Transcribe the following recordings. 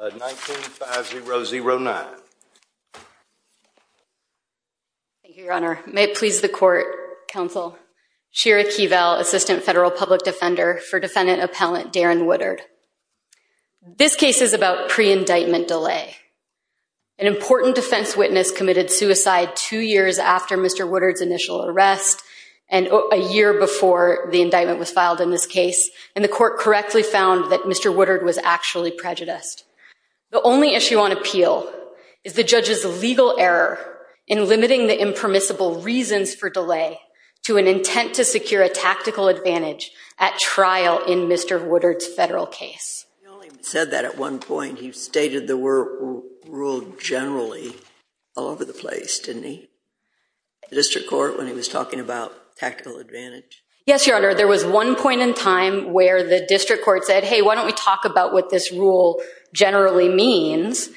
19-5-0-0-9. Thank you, Your Honor. May it please the court, counsel, Shira Keevel, Assistant Federal Public Defender for Defendant Appellant Darren Woodard. This case is about pre-indictment delay. An important defense witness committed suicide two years after Mr. Woodard's initial arrest and a year before the indictment was filed in this case, and the court correctly found that Mr. Woodard was actually prejudiced. The only issue on appeal is the judge's legal error in limiting the impermissible reasons for delay to an intent to secure a tactical advantage at trial in Mr. Woodard's federal case. He only said that at one point. He stated there were rules generally all over the place, didn't he? The district court, when he was talking about tactical advantage. Yes, Your Honor. There was one point in time where the district court said, hey, why don't we talk about what this rule generally means?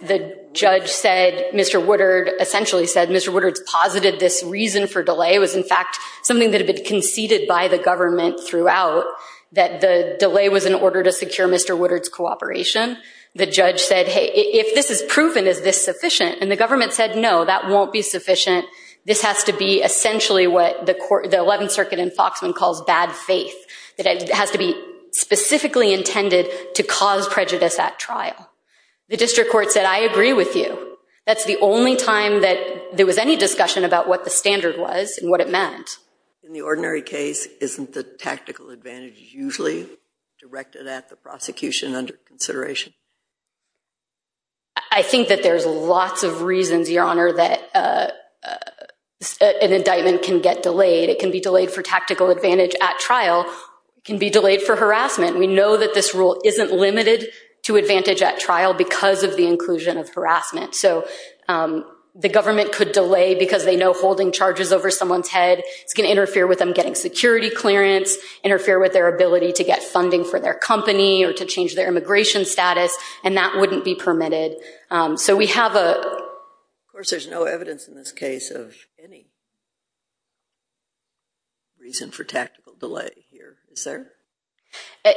The judge said, Mr. Woodard essentially said, Mr. Woodard's posited this reason for delay was, in fact, something that had been conceded by the government throughout, that the delay was in order to secure Mr. Woodard's cooperation. The judge said, hey, if this is proven, is this sufficient? And the government said, no, that won't be sufficient. This has to be essentially what the 11th Circuit and intended to cause prejudice at trial. The district court said, I agree with you. That's the only time that there was any discussion about what the standard was and what it meant. In the ordinary case, isn't the tactical advantage usually directed at the prosecution under consideration? I think that there's lots of reasons, Your Honor, that an indictment can get delayed. It can be delayed for tactical advantage at trial. It can be delayed for harassment. We know that this rule isn't limited to advantage at trial because of the inclusion of harassment. So the government could delay because they know holding charges over someone's head, it's going to interfere with them getting security clearance, interfere with their ability to get funding for their company or to change their immigration status, and that wouldn't be permitted. So we have a... Of course, there's no evidence in this case of any reason for tactical delay here, is there?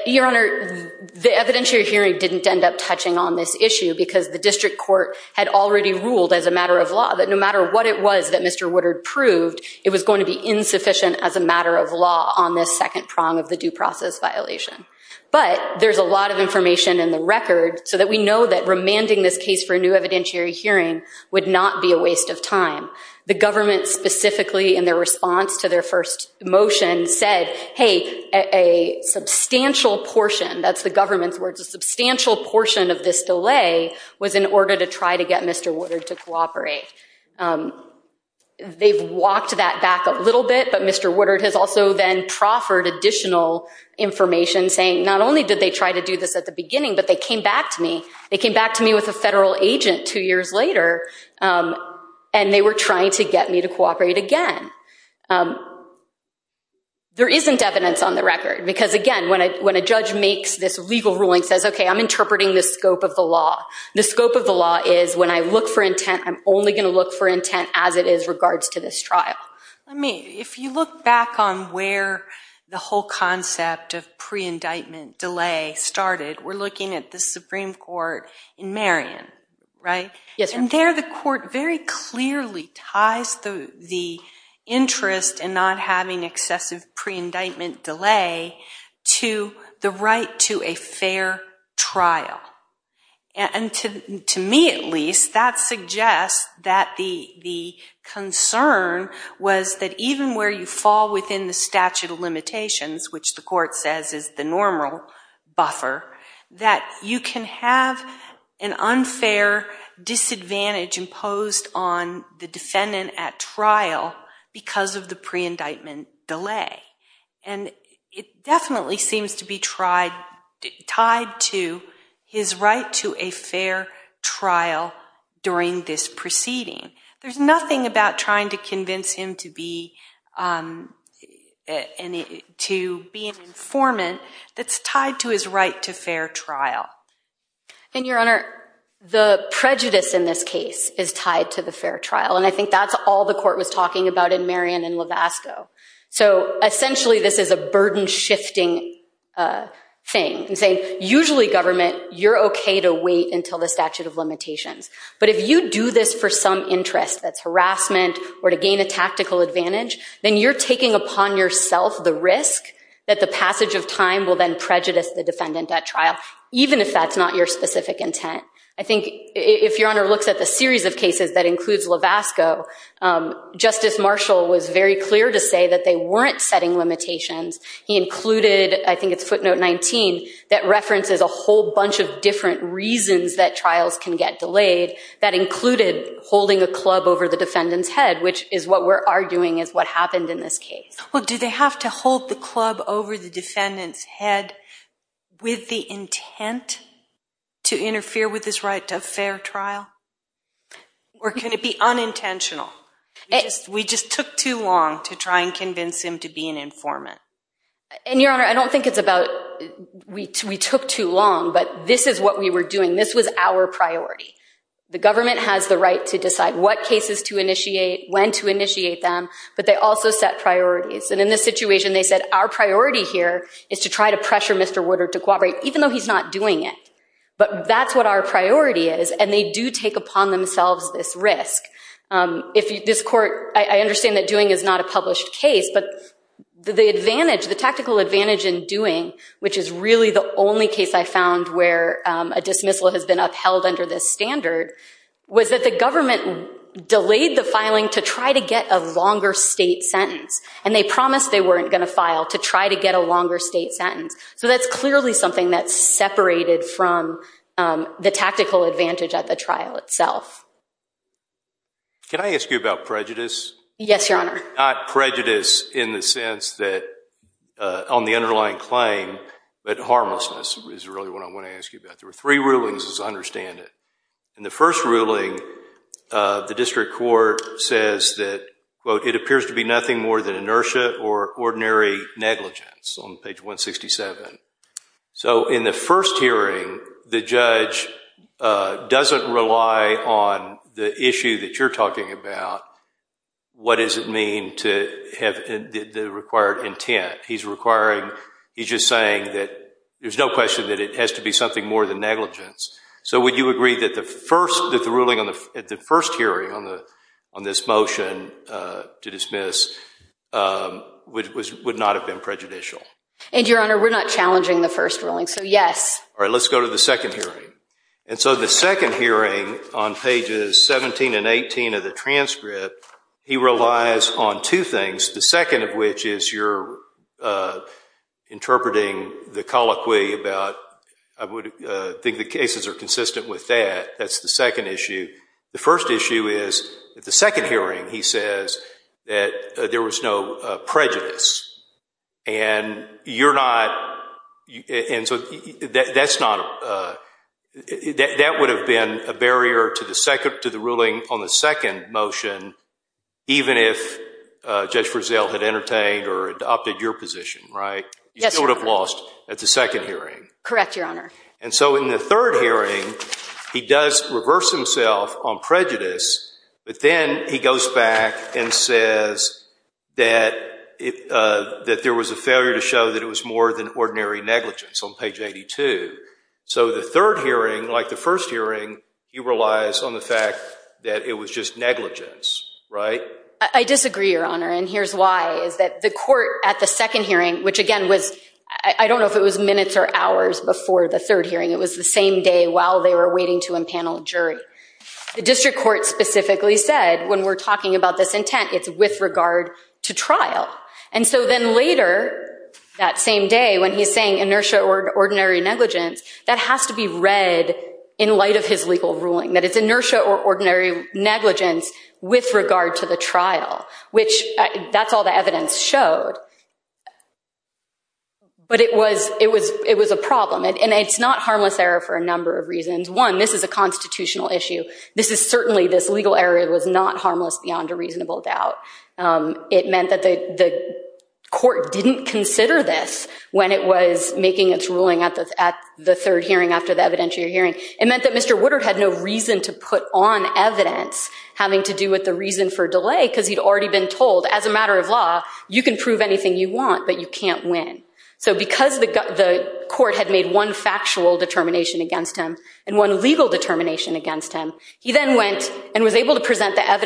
Your Honor, the evidentiary hearing didn't end up touching on this issue because the district court had already ruled as a matter of law that no matter what it was that Mr. Woodard proved, it was going to be insufficient as a matter of law on this second prong of the due process violation. But there's a lot of information in the record so that we know that remanding this case for a new evidentiary hearing would not be a waste of time. The government specifically in their response to their first motion said, hey, a substantial portion, that's the government's words, a substantial portion of this delay was in order to try to get Mr. Woodard to cooperate. They've walked that back a little bit, but Mr. Woodard has also then proffered additional information saying not only did they try to do this at the beginning, but they came back to me. They came back to me with a federal agent two years later and they were trying to get me to cooperate again. There isn't evidence on the record because again, when a judge makes this legal ruling says, okay, I'm interpreting the scope of the law. The scope of the law is when I look for intent, I'm only going to look for intent as it is regards to this trial. I mean, if you look back on where the whole concept of pre-indictment delay started, we're looking at the Supreme Court in Marion, right? Yes, ma'am. There the court very clearly ties the interest in not having excessive pre-indictment delay to the right to a fair trial. To me at least, that suggests that the concern was that even where you fall within the statute of limitations, which the court says is the normal buffer, that you can have an unfair disadvantage imposed on the defendant at trial because of the pre-indictment delay. And it definitely seems to be tied to his right to a fair trial during this proceeding. There's nothing about trying to convince him to be an informant that's tied to his right to fair trial. And your honor, the prejudice in this case is tied to the fair trial. And I think that's all the court was talking about in Marion and Levasco. So essentially, this is a burden shifting thing and saying, usually government, you're okay to wait until the statute of limitations. But if you do this for some interest, that's harassment or to gain a tactical advantage, then you're taking upon yourself the risk that the passage of time will then prejudice the defendant at trial, even if that's not your specific intent. I think if your honor looks at the series of cases that includes Levasco, Justice Marshall was very clear to say that they weren't setting limitations. He included, I think it's footnote 19, that references a whole included holding a club over the defendant's head, which is what we're arguing is what happened in this case. Well, do they have to hold the club over the defendant's head with the intent to interfere with his right to a fair trial? Or can it be unintentional? We just took too long to try and convince him to be an informant. And your honor, I don't think it's about, we took too long, but this is what we were doing. This was our priority. The government has the right to decide what cases to initiate, when to initiate them, but they also set priorities. And in this situation, they said, our priority here is to try to pressure Mr. Woodard to cooperate, even though he's not doing it. But that's what our priority is. And they do take upon themselves this risk. If this court, I understand that doing is not a published case, but the advantage, in doing, which is really the only case I found where a dismissal has been upheld under this standard, was that the government delayed the filing to try to get a longer state sentence. And they promised they weren't going to file to try to get a longer state sentence. So that's clearly something that's separated from the tactical advantage at the trial itself. Can I ask you about prejudice? Yes, your honor. Not prejudice in the sense that, on the underlying claim, but harmlessness is really what I want to ask you about. There were three rulings as I understand it. In the first ruling, the district court says that, quote, it appears to be nothing more than inertia or ordinary negligence on page 167. So in the first hearing, the judge doesn't rely on the issue that you're talking about. What does it mean to have the required intent? He's just saying that there's no question that it has to be something more than negligence. So would you agree that the first hearing on this motion to dismiss would not have been prejudicial? And your honor, we're not challenging the first ruling, so yes. All right, let's go to the second hearing. And so the second hearing on pages 17 and 18 of the transcript, he relies on two things, the second of which is you're interpreting the colloquy about, I would think the cases are consistent with that. That's the second issue. The first issue is, at the second hearing, he says that there was no prejudice. And you're not, and so that's not, that would have been a barrier to the ruling on the second motion, even if Judge Frizzell had entertained or adopted your position, right? You still would have lost at the second hearing. Correct, your honor. And so in the third hearing, he does reverse himself on prejudice, but then he goes back and says that there was a failure to show that it was more than ordinary negligence on page 82. So the third hearing, like the first hearing, he relies on the fact that it was just negligence, right? I disagree, your honor, and here's why, is that the court at the second hearing, which again was, I don't know if it was minutes or hours before the third hearing, it was the same day while they were waiting to empanel a jury. The district court specifically said, when we're talking about this intent, it's with regard to trial. And so then later that same day when he's saying inertia or ordinary negligence, that has to be read in light of his legal ruling, that it's inertia or ordinary negligence with regard to the trial, which that's all the evidence showed. But it was a problem, and it's not harmless error for a number of reasons. One, this is a constitutional issue. This is certainly, this legal error was not harmless beyond a reasonable doubt. It meant that the court didn't consider this when it was making its ruling at the third hearing after the evidentiary hearing. It meant that Mr. Woodard had no reason to put on evidence having to do with the reason for delay, because he'd already been told, as a matter of law, you can prove anything you want, but you can't win. So because the court had made one factual determination against him and one legal determination against him, he then went and was able to present the legal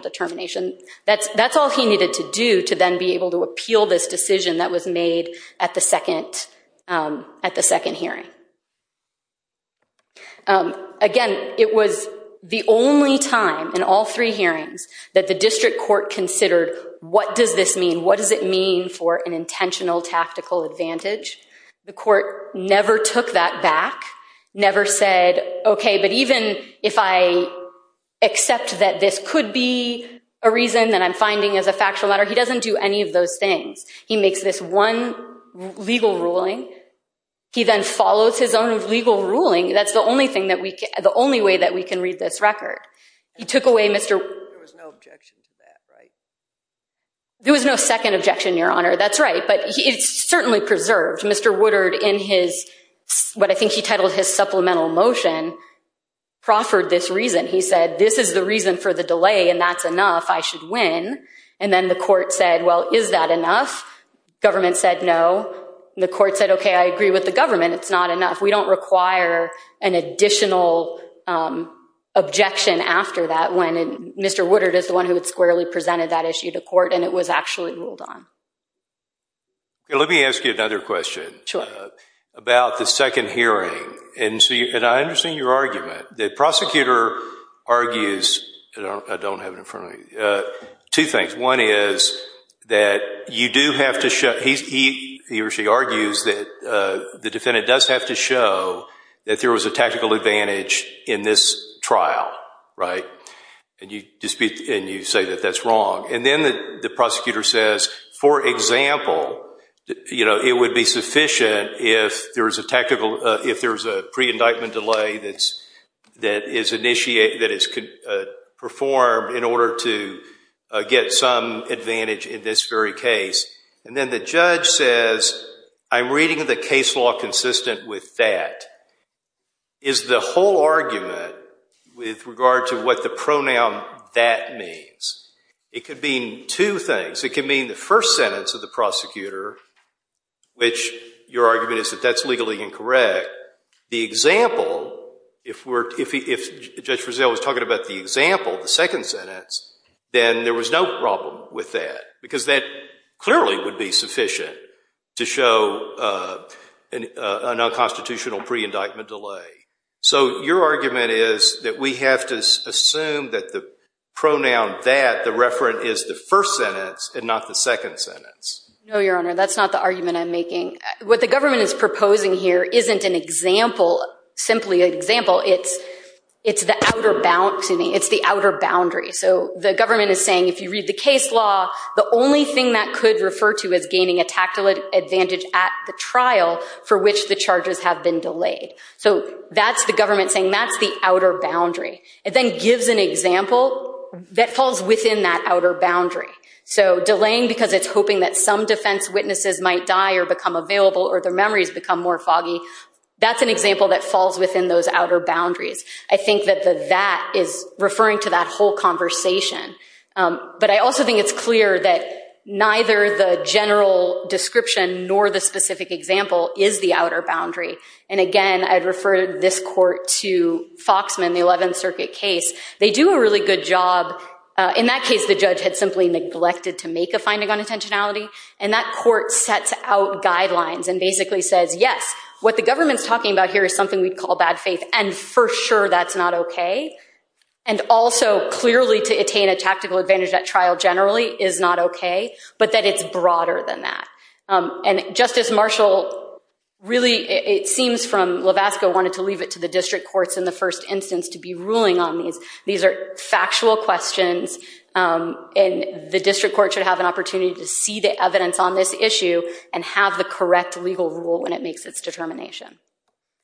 determination. That's all he needed to do to then be able to appeal this decision that was made at the second hearing. Again, it was the only time in all three hearings that the district court considered, what does this mean? What does it mean for an intentional tactical advantage? The court never took that back, never said, OK, but even if I accept that this could be a reason that I'm finding as a factual matter, he doesn't do any of those things. He makes this one legal ruling. He then follows his own legal ruling. That's the only way that we can read this record. There was no second objection, Your Honor. That's right, but it's certainly preserved. Mr. Woodard, in what I think he titled his supplemental motion, proffered this reason. He said, this is the reason for the delay, and that's enough. I should win. And then the court said, well, is that enough? Government said no. The court said, OK, I agree with the government. It's not enough. We don't require an additional objection after that when Mr. Woodard is the one who had squarely presented that issue to court, and it was actually ruled on. OK, let me ask you another question about the second hearing. And I understand your argument. The prosecutor argues, I don't have it in front of me, two things. One is that you do have to show, he or she argues that the defendant does have to show that there was a tactical advantage in this trial, right? And you say that that's wrong. And then the prosecutor says, for example, it would be sufficient if there was a pre-indictment delay that is performed in order to get some advantage in this very case. And then the judge says, I'm reading the case law consistent with that. Is the whole argument with regard to what the pronoun that means? It could mean two things. It could mean the first sentence of the prosecutor, which your argument is that that's legally incorrect. The example, if Judge Rizzo was talking about the example, the second sentence, then there was no problem with that because that clearly would be sufficient to show a non-constitutional pre-indictment delay. So your argument is that we have to assume that the referent is the first sentence and not the second sentence. No, Your Honor, that's not the argument I'm making. What the government is proposing here isn't an example, simply an example. It's the outer boundary. So the government is saying, if you read the case law, the only thing that could refer to as gaining a tactical advantage at the trial for which the charges have been delayed. So that's the government saying that's the outer boundary. It then gives an example that falls within that outer boundary. So delaying because it's hoping that some defense witnesses might die or become available or their memories become more foggy, that's an example that falls within those outer boundaries. I think that the that is referring to that whole conversation. But I also think it's clear that neither the general description nor the specific example is the outer boundary. And again, I'd refer this court to Foxman, the 11th Circuit case. They do a really good job. In that case, the judge had simply neglected to make a finding on intentionality. And that court sets out guidelines and basically says, yes, what the government's talking about here is something we'd call bad faith. And for sure, that's not OK. And also, clearly, to attain a tactical advantage at trial generally is not OK, but that it's broader than that. And Justice Marshall really, it seems from Levasco, wanted to leave it to the district courts in the first instance to be ruling on these. These are factual questions. And the district court should have an opportunity to see the evidence on this issue and have the correct legal rule when it makes its determination.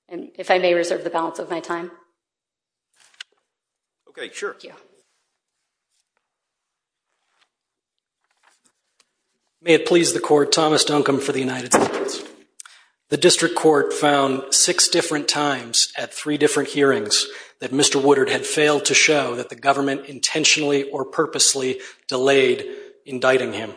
And if I may reserve the balance of my time. OK, sure. May it please the court, Thomas Duncombe for the United States. The district court found six times at three different hearings that Mr. Woodard had failed to show that the government intentionally or purposely delayed indicting him.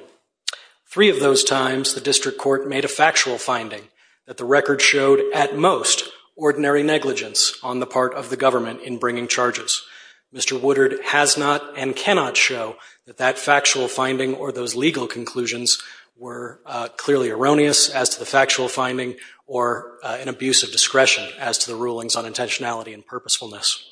Three of those times, the district court made a factual finding that the record showed, at most, ordinary negligence on the part of the government in bringing charges. Mr. Woodard has not and cannot show that that factual finding or those legal as to the rulings on intentionality and purposefulness.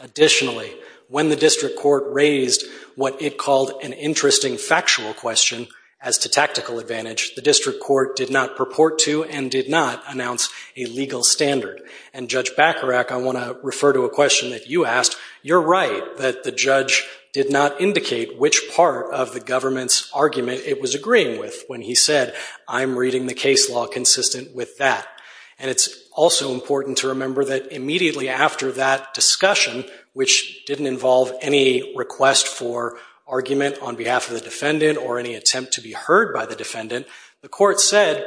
Additionally, when the district court raised what it called an interesting factual question as to tactical advantage, the district court did not purport to and did not announce a legal standard. And Judge Bacharach, I want to refer to a question that you asked. You're right that the judge did not indicate which part of the government's argument it was agreeing with when he said, I'm reading the case law consistent with that. And it's also important to remember that immediately after that discussion, which didn't involve any request for argument on behalf of the defendant or any attempt to be heard by the defendant, the court said,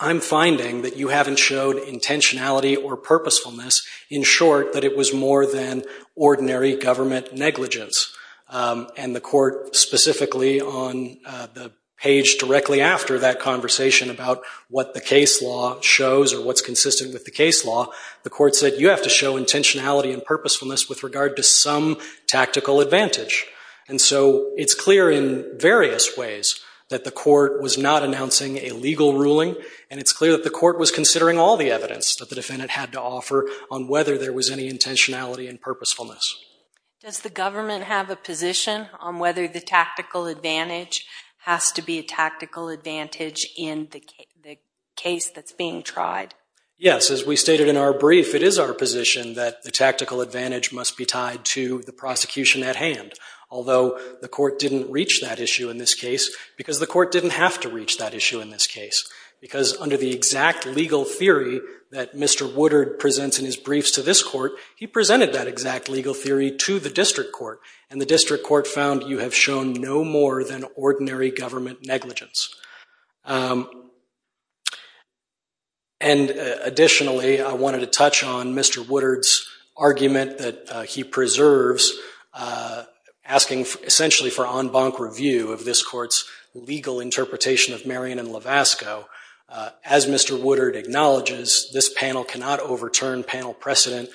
I'm finding that you haven't showed intentionality or purposefulness, in short, that it was more than ordinary government negligence. And the court specifically on the page directly after that conversation about what the case law shows or what's consistent with the case law, the court said, you have to show intentionality and purposefulness with regard to some tactical advantage. And so it's clear in various ways that the court was not announcing a legal ruling. And it's clear that the court was considering all the evidence that the defendant had to offer on whether there was any intentionality and purposefulness. Does the government have a tactical advantage? Has to be a tactical advantage in the case that's being tried? Yes. As we stated in our brief, it is our position that the tactical advantage must be tied to the prosecution at hand. Although the court didn't reach that issue in this case because the court didn't have to reach that issue in this case. Because under the exact legal theory that Mr. Woodard presents in his briefs to this court, he presented that exact legal theory to the district court. And the district court found you have shown no more than ordinary government negligence. And additionally, I wanted to touch on Mr. Woodard's argument that he preserves asking essentially for en banc review of this court's legal interpretation of Marion and Lovasco. As Mr. Woodard acknowledges, this panel cannot overturn panel precedent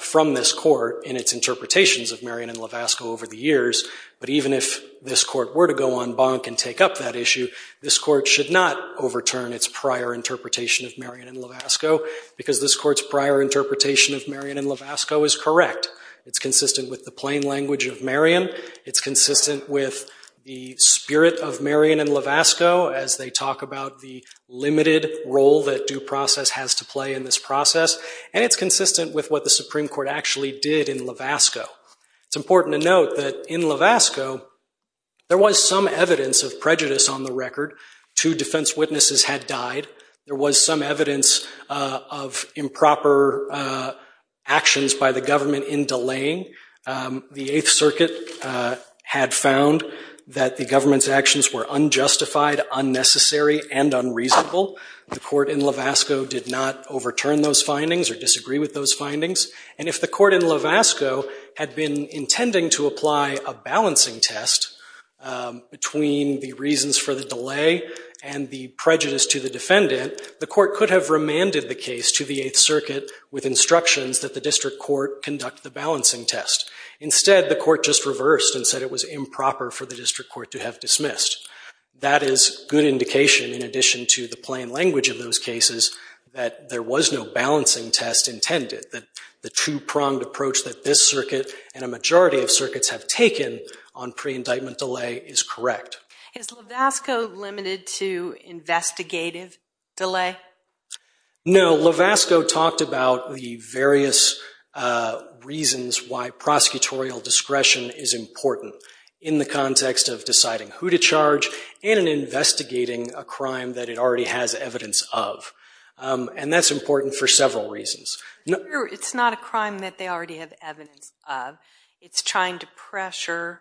from this court in its interpretations of Marion and Lovasco over the years. But even if this court were to go en banc and take up that issue, this court should not overturn its prior interpretation of Marion and Lovasco. Because this court's prior interpretation of Marion and Lovasco is correct. It's consistent with the plain language of Marion. It's consistent with the spirit of Marion and Lovasco as they talk about the limited role that due process has to play in this process. And it's important to note that in Lovasco, there was some evidence of prejudice on the record. Two defense witnesses had died. There was some evidence of improper actions by the government in delaying. The Eighth Circuit had found that the government's actions were unjustified, unnecessary, and unreasonable. The court in Lovasco did not overturn those findings or disagree with those findings. And if the court in Lovasco had been intending to apply a balancing test between the reasons for the delay and the prejudice to the defendant, the court could have remanded the case to the Eighth Circuit with instructions that the district court conduct the balancing test. Instead, the court just reversed and said it was improper for the district court to have dismissed. That is good indication, in addition to the plain language of those cases, that there was no balancing test intended, that the two-pronged approach that this circuit and a majority of circuits have taken on pre-indictment delay is correct. Is Lovasco limited to investigative delay? No. Lovasco talked about the various reasons why prosecutorial discretion is important in the context of deciding who to charge and in investigating a crime that it already has evidence of. And that's important for several reasons. It's not a crime that they already have evidence of. It's trying to pressure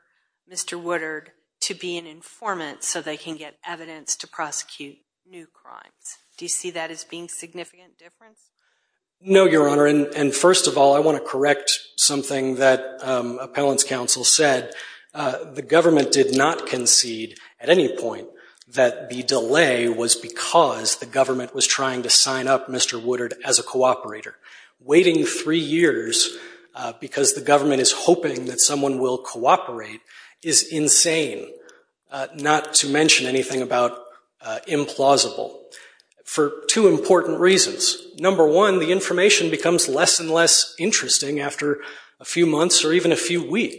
Mr. Woodard to be an informant so they can get evidence to prosecute new crimes. Do you see that as being significant? No, Your Honor. And first of all, I want to correct something that Appellant's counsel said. The government did not concede at any point that the delay was because the government was trying to sign up Mr. Woodard as a cooperator. Waiting three years because the government is hoping that someone will cooperate is insane, not to mention anything about implausible, for two important reasons. Number one, the information becomes less and less interesting after a few months or even a year.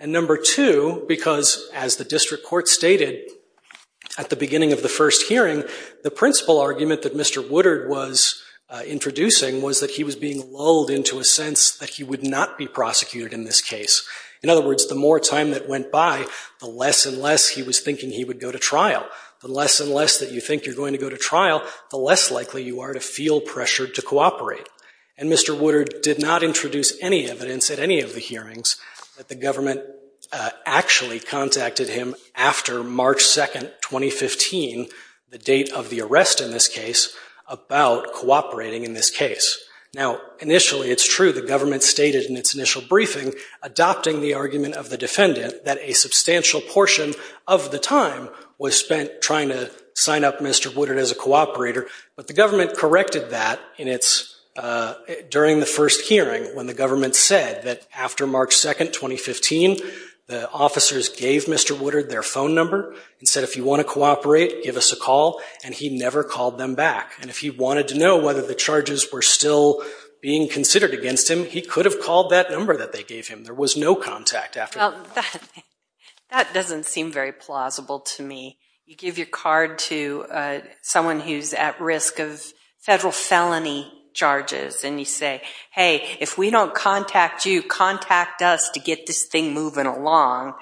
Number two, because as the district court stated at the beginning of the first hearing, the principal argument that Mr. Woodard was introducing was that he was being lulled into a sense that he would not be prosecuted in this case. In other words, the more time that went by, the less and less he was thinking he would go to trial. The less and less that you think you're going to go to trial, the less likely you are to feel pressured to cooperate. And Mr. Woodard did not introduce any evidence at any of the hearings that the government actually contacted him after March 2, 2015, the date of the arrest in this case, about cooperating in this case. Now, initially, it's true the government stated in its initial briefing, adopting the argument of the defendant, that a substantial portion of the time was spent trying to sign up Mr. Woodard as a cooperator, but the government corrected that during the first hearing when the government said that after March 2, 2015, the officers gave Mr. Woodard their phone number and said, if you want to cooperate, give us a call, and he never called them back. And if he wanted to know whether the charges were still being considered against him, he could have called that number that they gave him. There was no contact after that. Well, that doesn't seem very plausible to me. You give your card to someone who's at risk of federal felony charges, and you say, hey, if we don't contact you, contact us to get this thing moving along.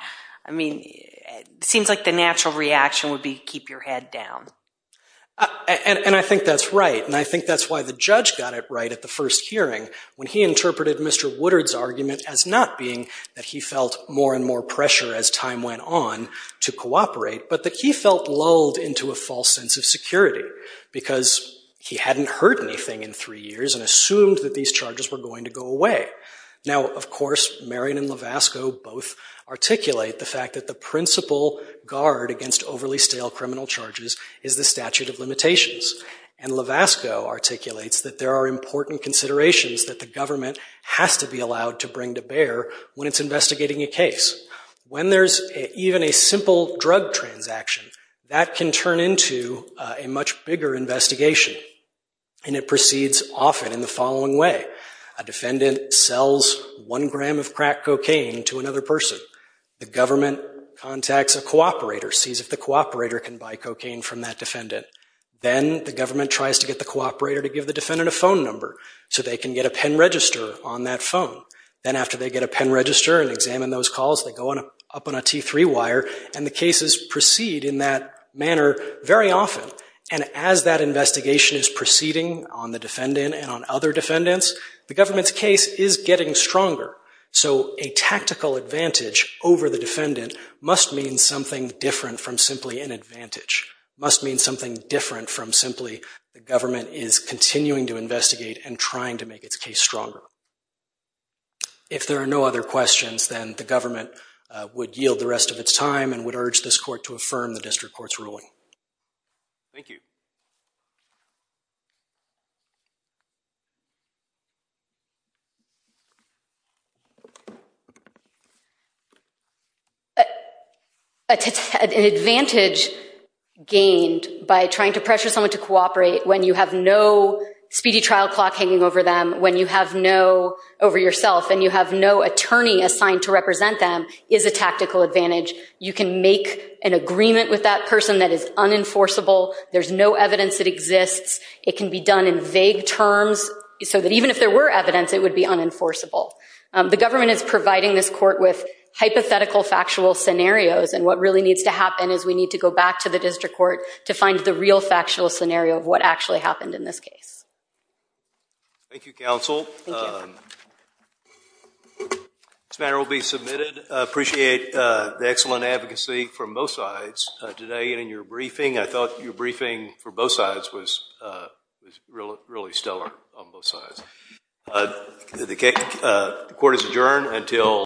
I mean, it seems like the natural reaction would be to keep your head down. And I think that's right, and I think that's why the judge got it right at the first hearing, when he interpreted Mr. Woodard's argument as not being that he felt more and more pressure as time went on to cooperate, but that he felt lulled into a false sense of security because he hadn't heard anything in three years and assumed that these charges were going to go away. Now, of course, Marion and Levasco both articulate the fact that the principal guard against overly stale criminal charges is the statute of limitations. And Levasco articulates that there are important considerations that the government has to be allowed to bring to bear when it's investigating a case. When there's even a simple drug transaction, that can turn into a much bigger investigation. And it proceeds often in the following way. A defendant sells one gram of crack cocaine to another person. The government contacts a cooperator, sees if the cooperator can buy cocaine from that defendant. Then the government tries to get the cooperator to give the defendant a phone number so they can get a pen register on that phone. Then after they get a pen register and examine those calls, they go up on a T3 wire, and the cases proceed in that manner very often. And as that investigation is proceeding on the defendant and on other defendants, the government's case is getting stronger. So a tactical advantage over the defendant must mean something different from simply an advantage, must mean something different from simply the government is continuing to investigate and if there are no other questions, then the government would yield the rest of its time and would urge this court to affirm the district court's ruling. Thank you. An advantage gained by trying to pressure someone to cooperate when you have no speedy clock hanging over them, when you have no over yourself and you have no attorney assigned to represent them is a tactical advantage. You can make an agreement with that person that is unenforceable. There's no evidence that exists. It can be done in vague terms so that even if there were evidence, it would be unenforceable. The government is providing this court with hypothetical factual scenarios. And what really needs to happen is we need to go back to the district court to find the real factual scenario of what actually happened in this case. Thank you counsel. This matter will be submitted. I appreciate the excellent advocacy from both sides today and in your briefing. I thought your briefing for both sides was really stellar on both sides. The court is adjourned until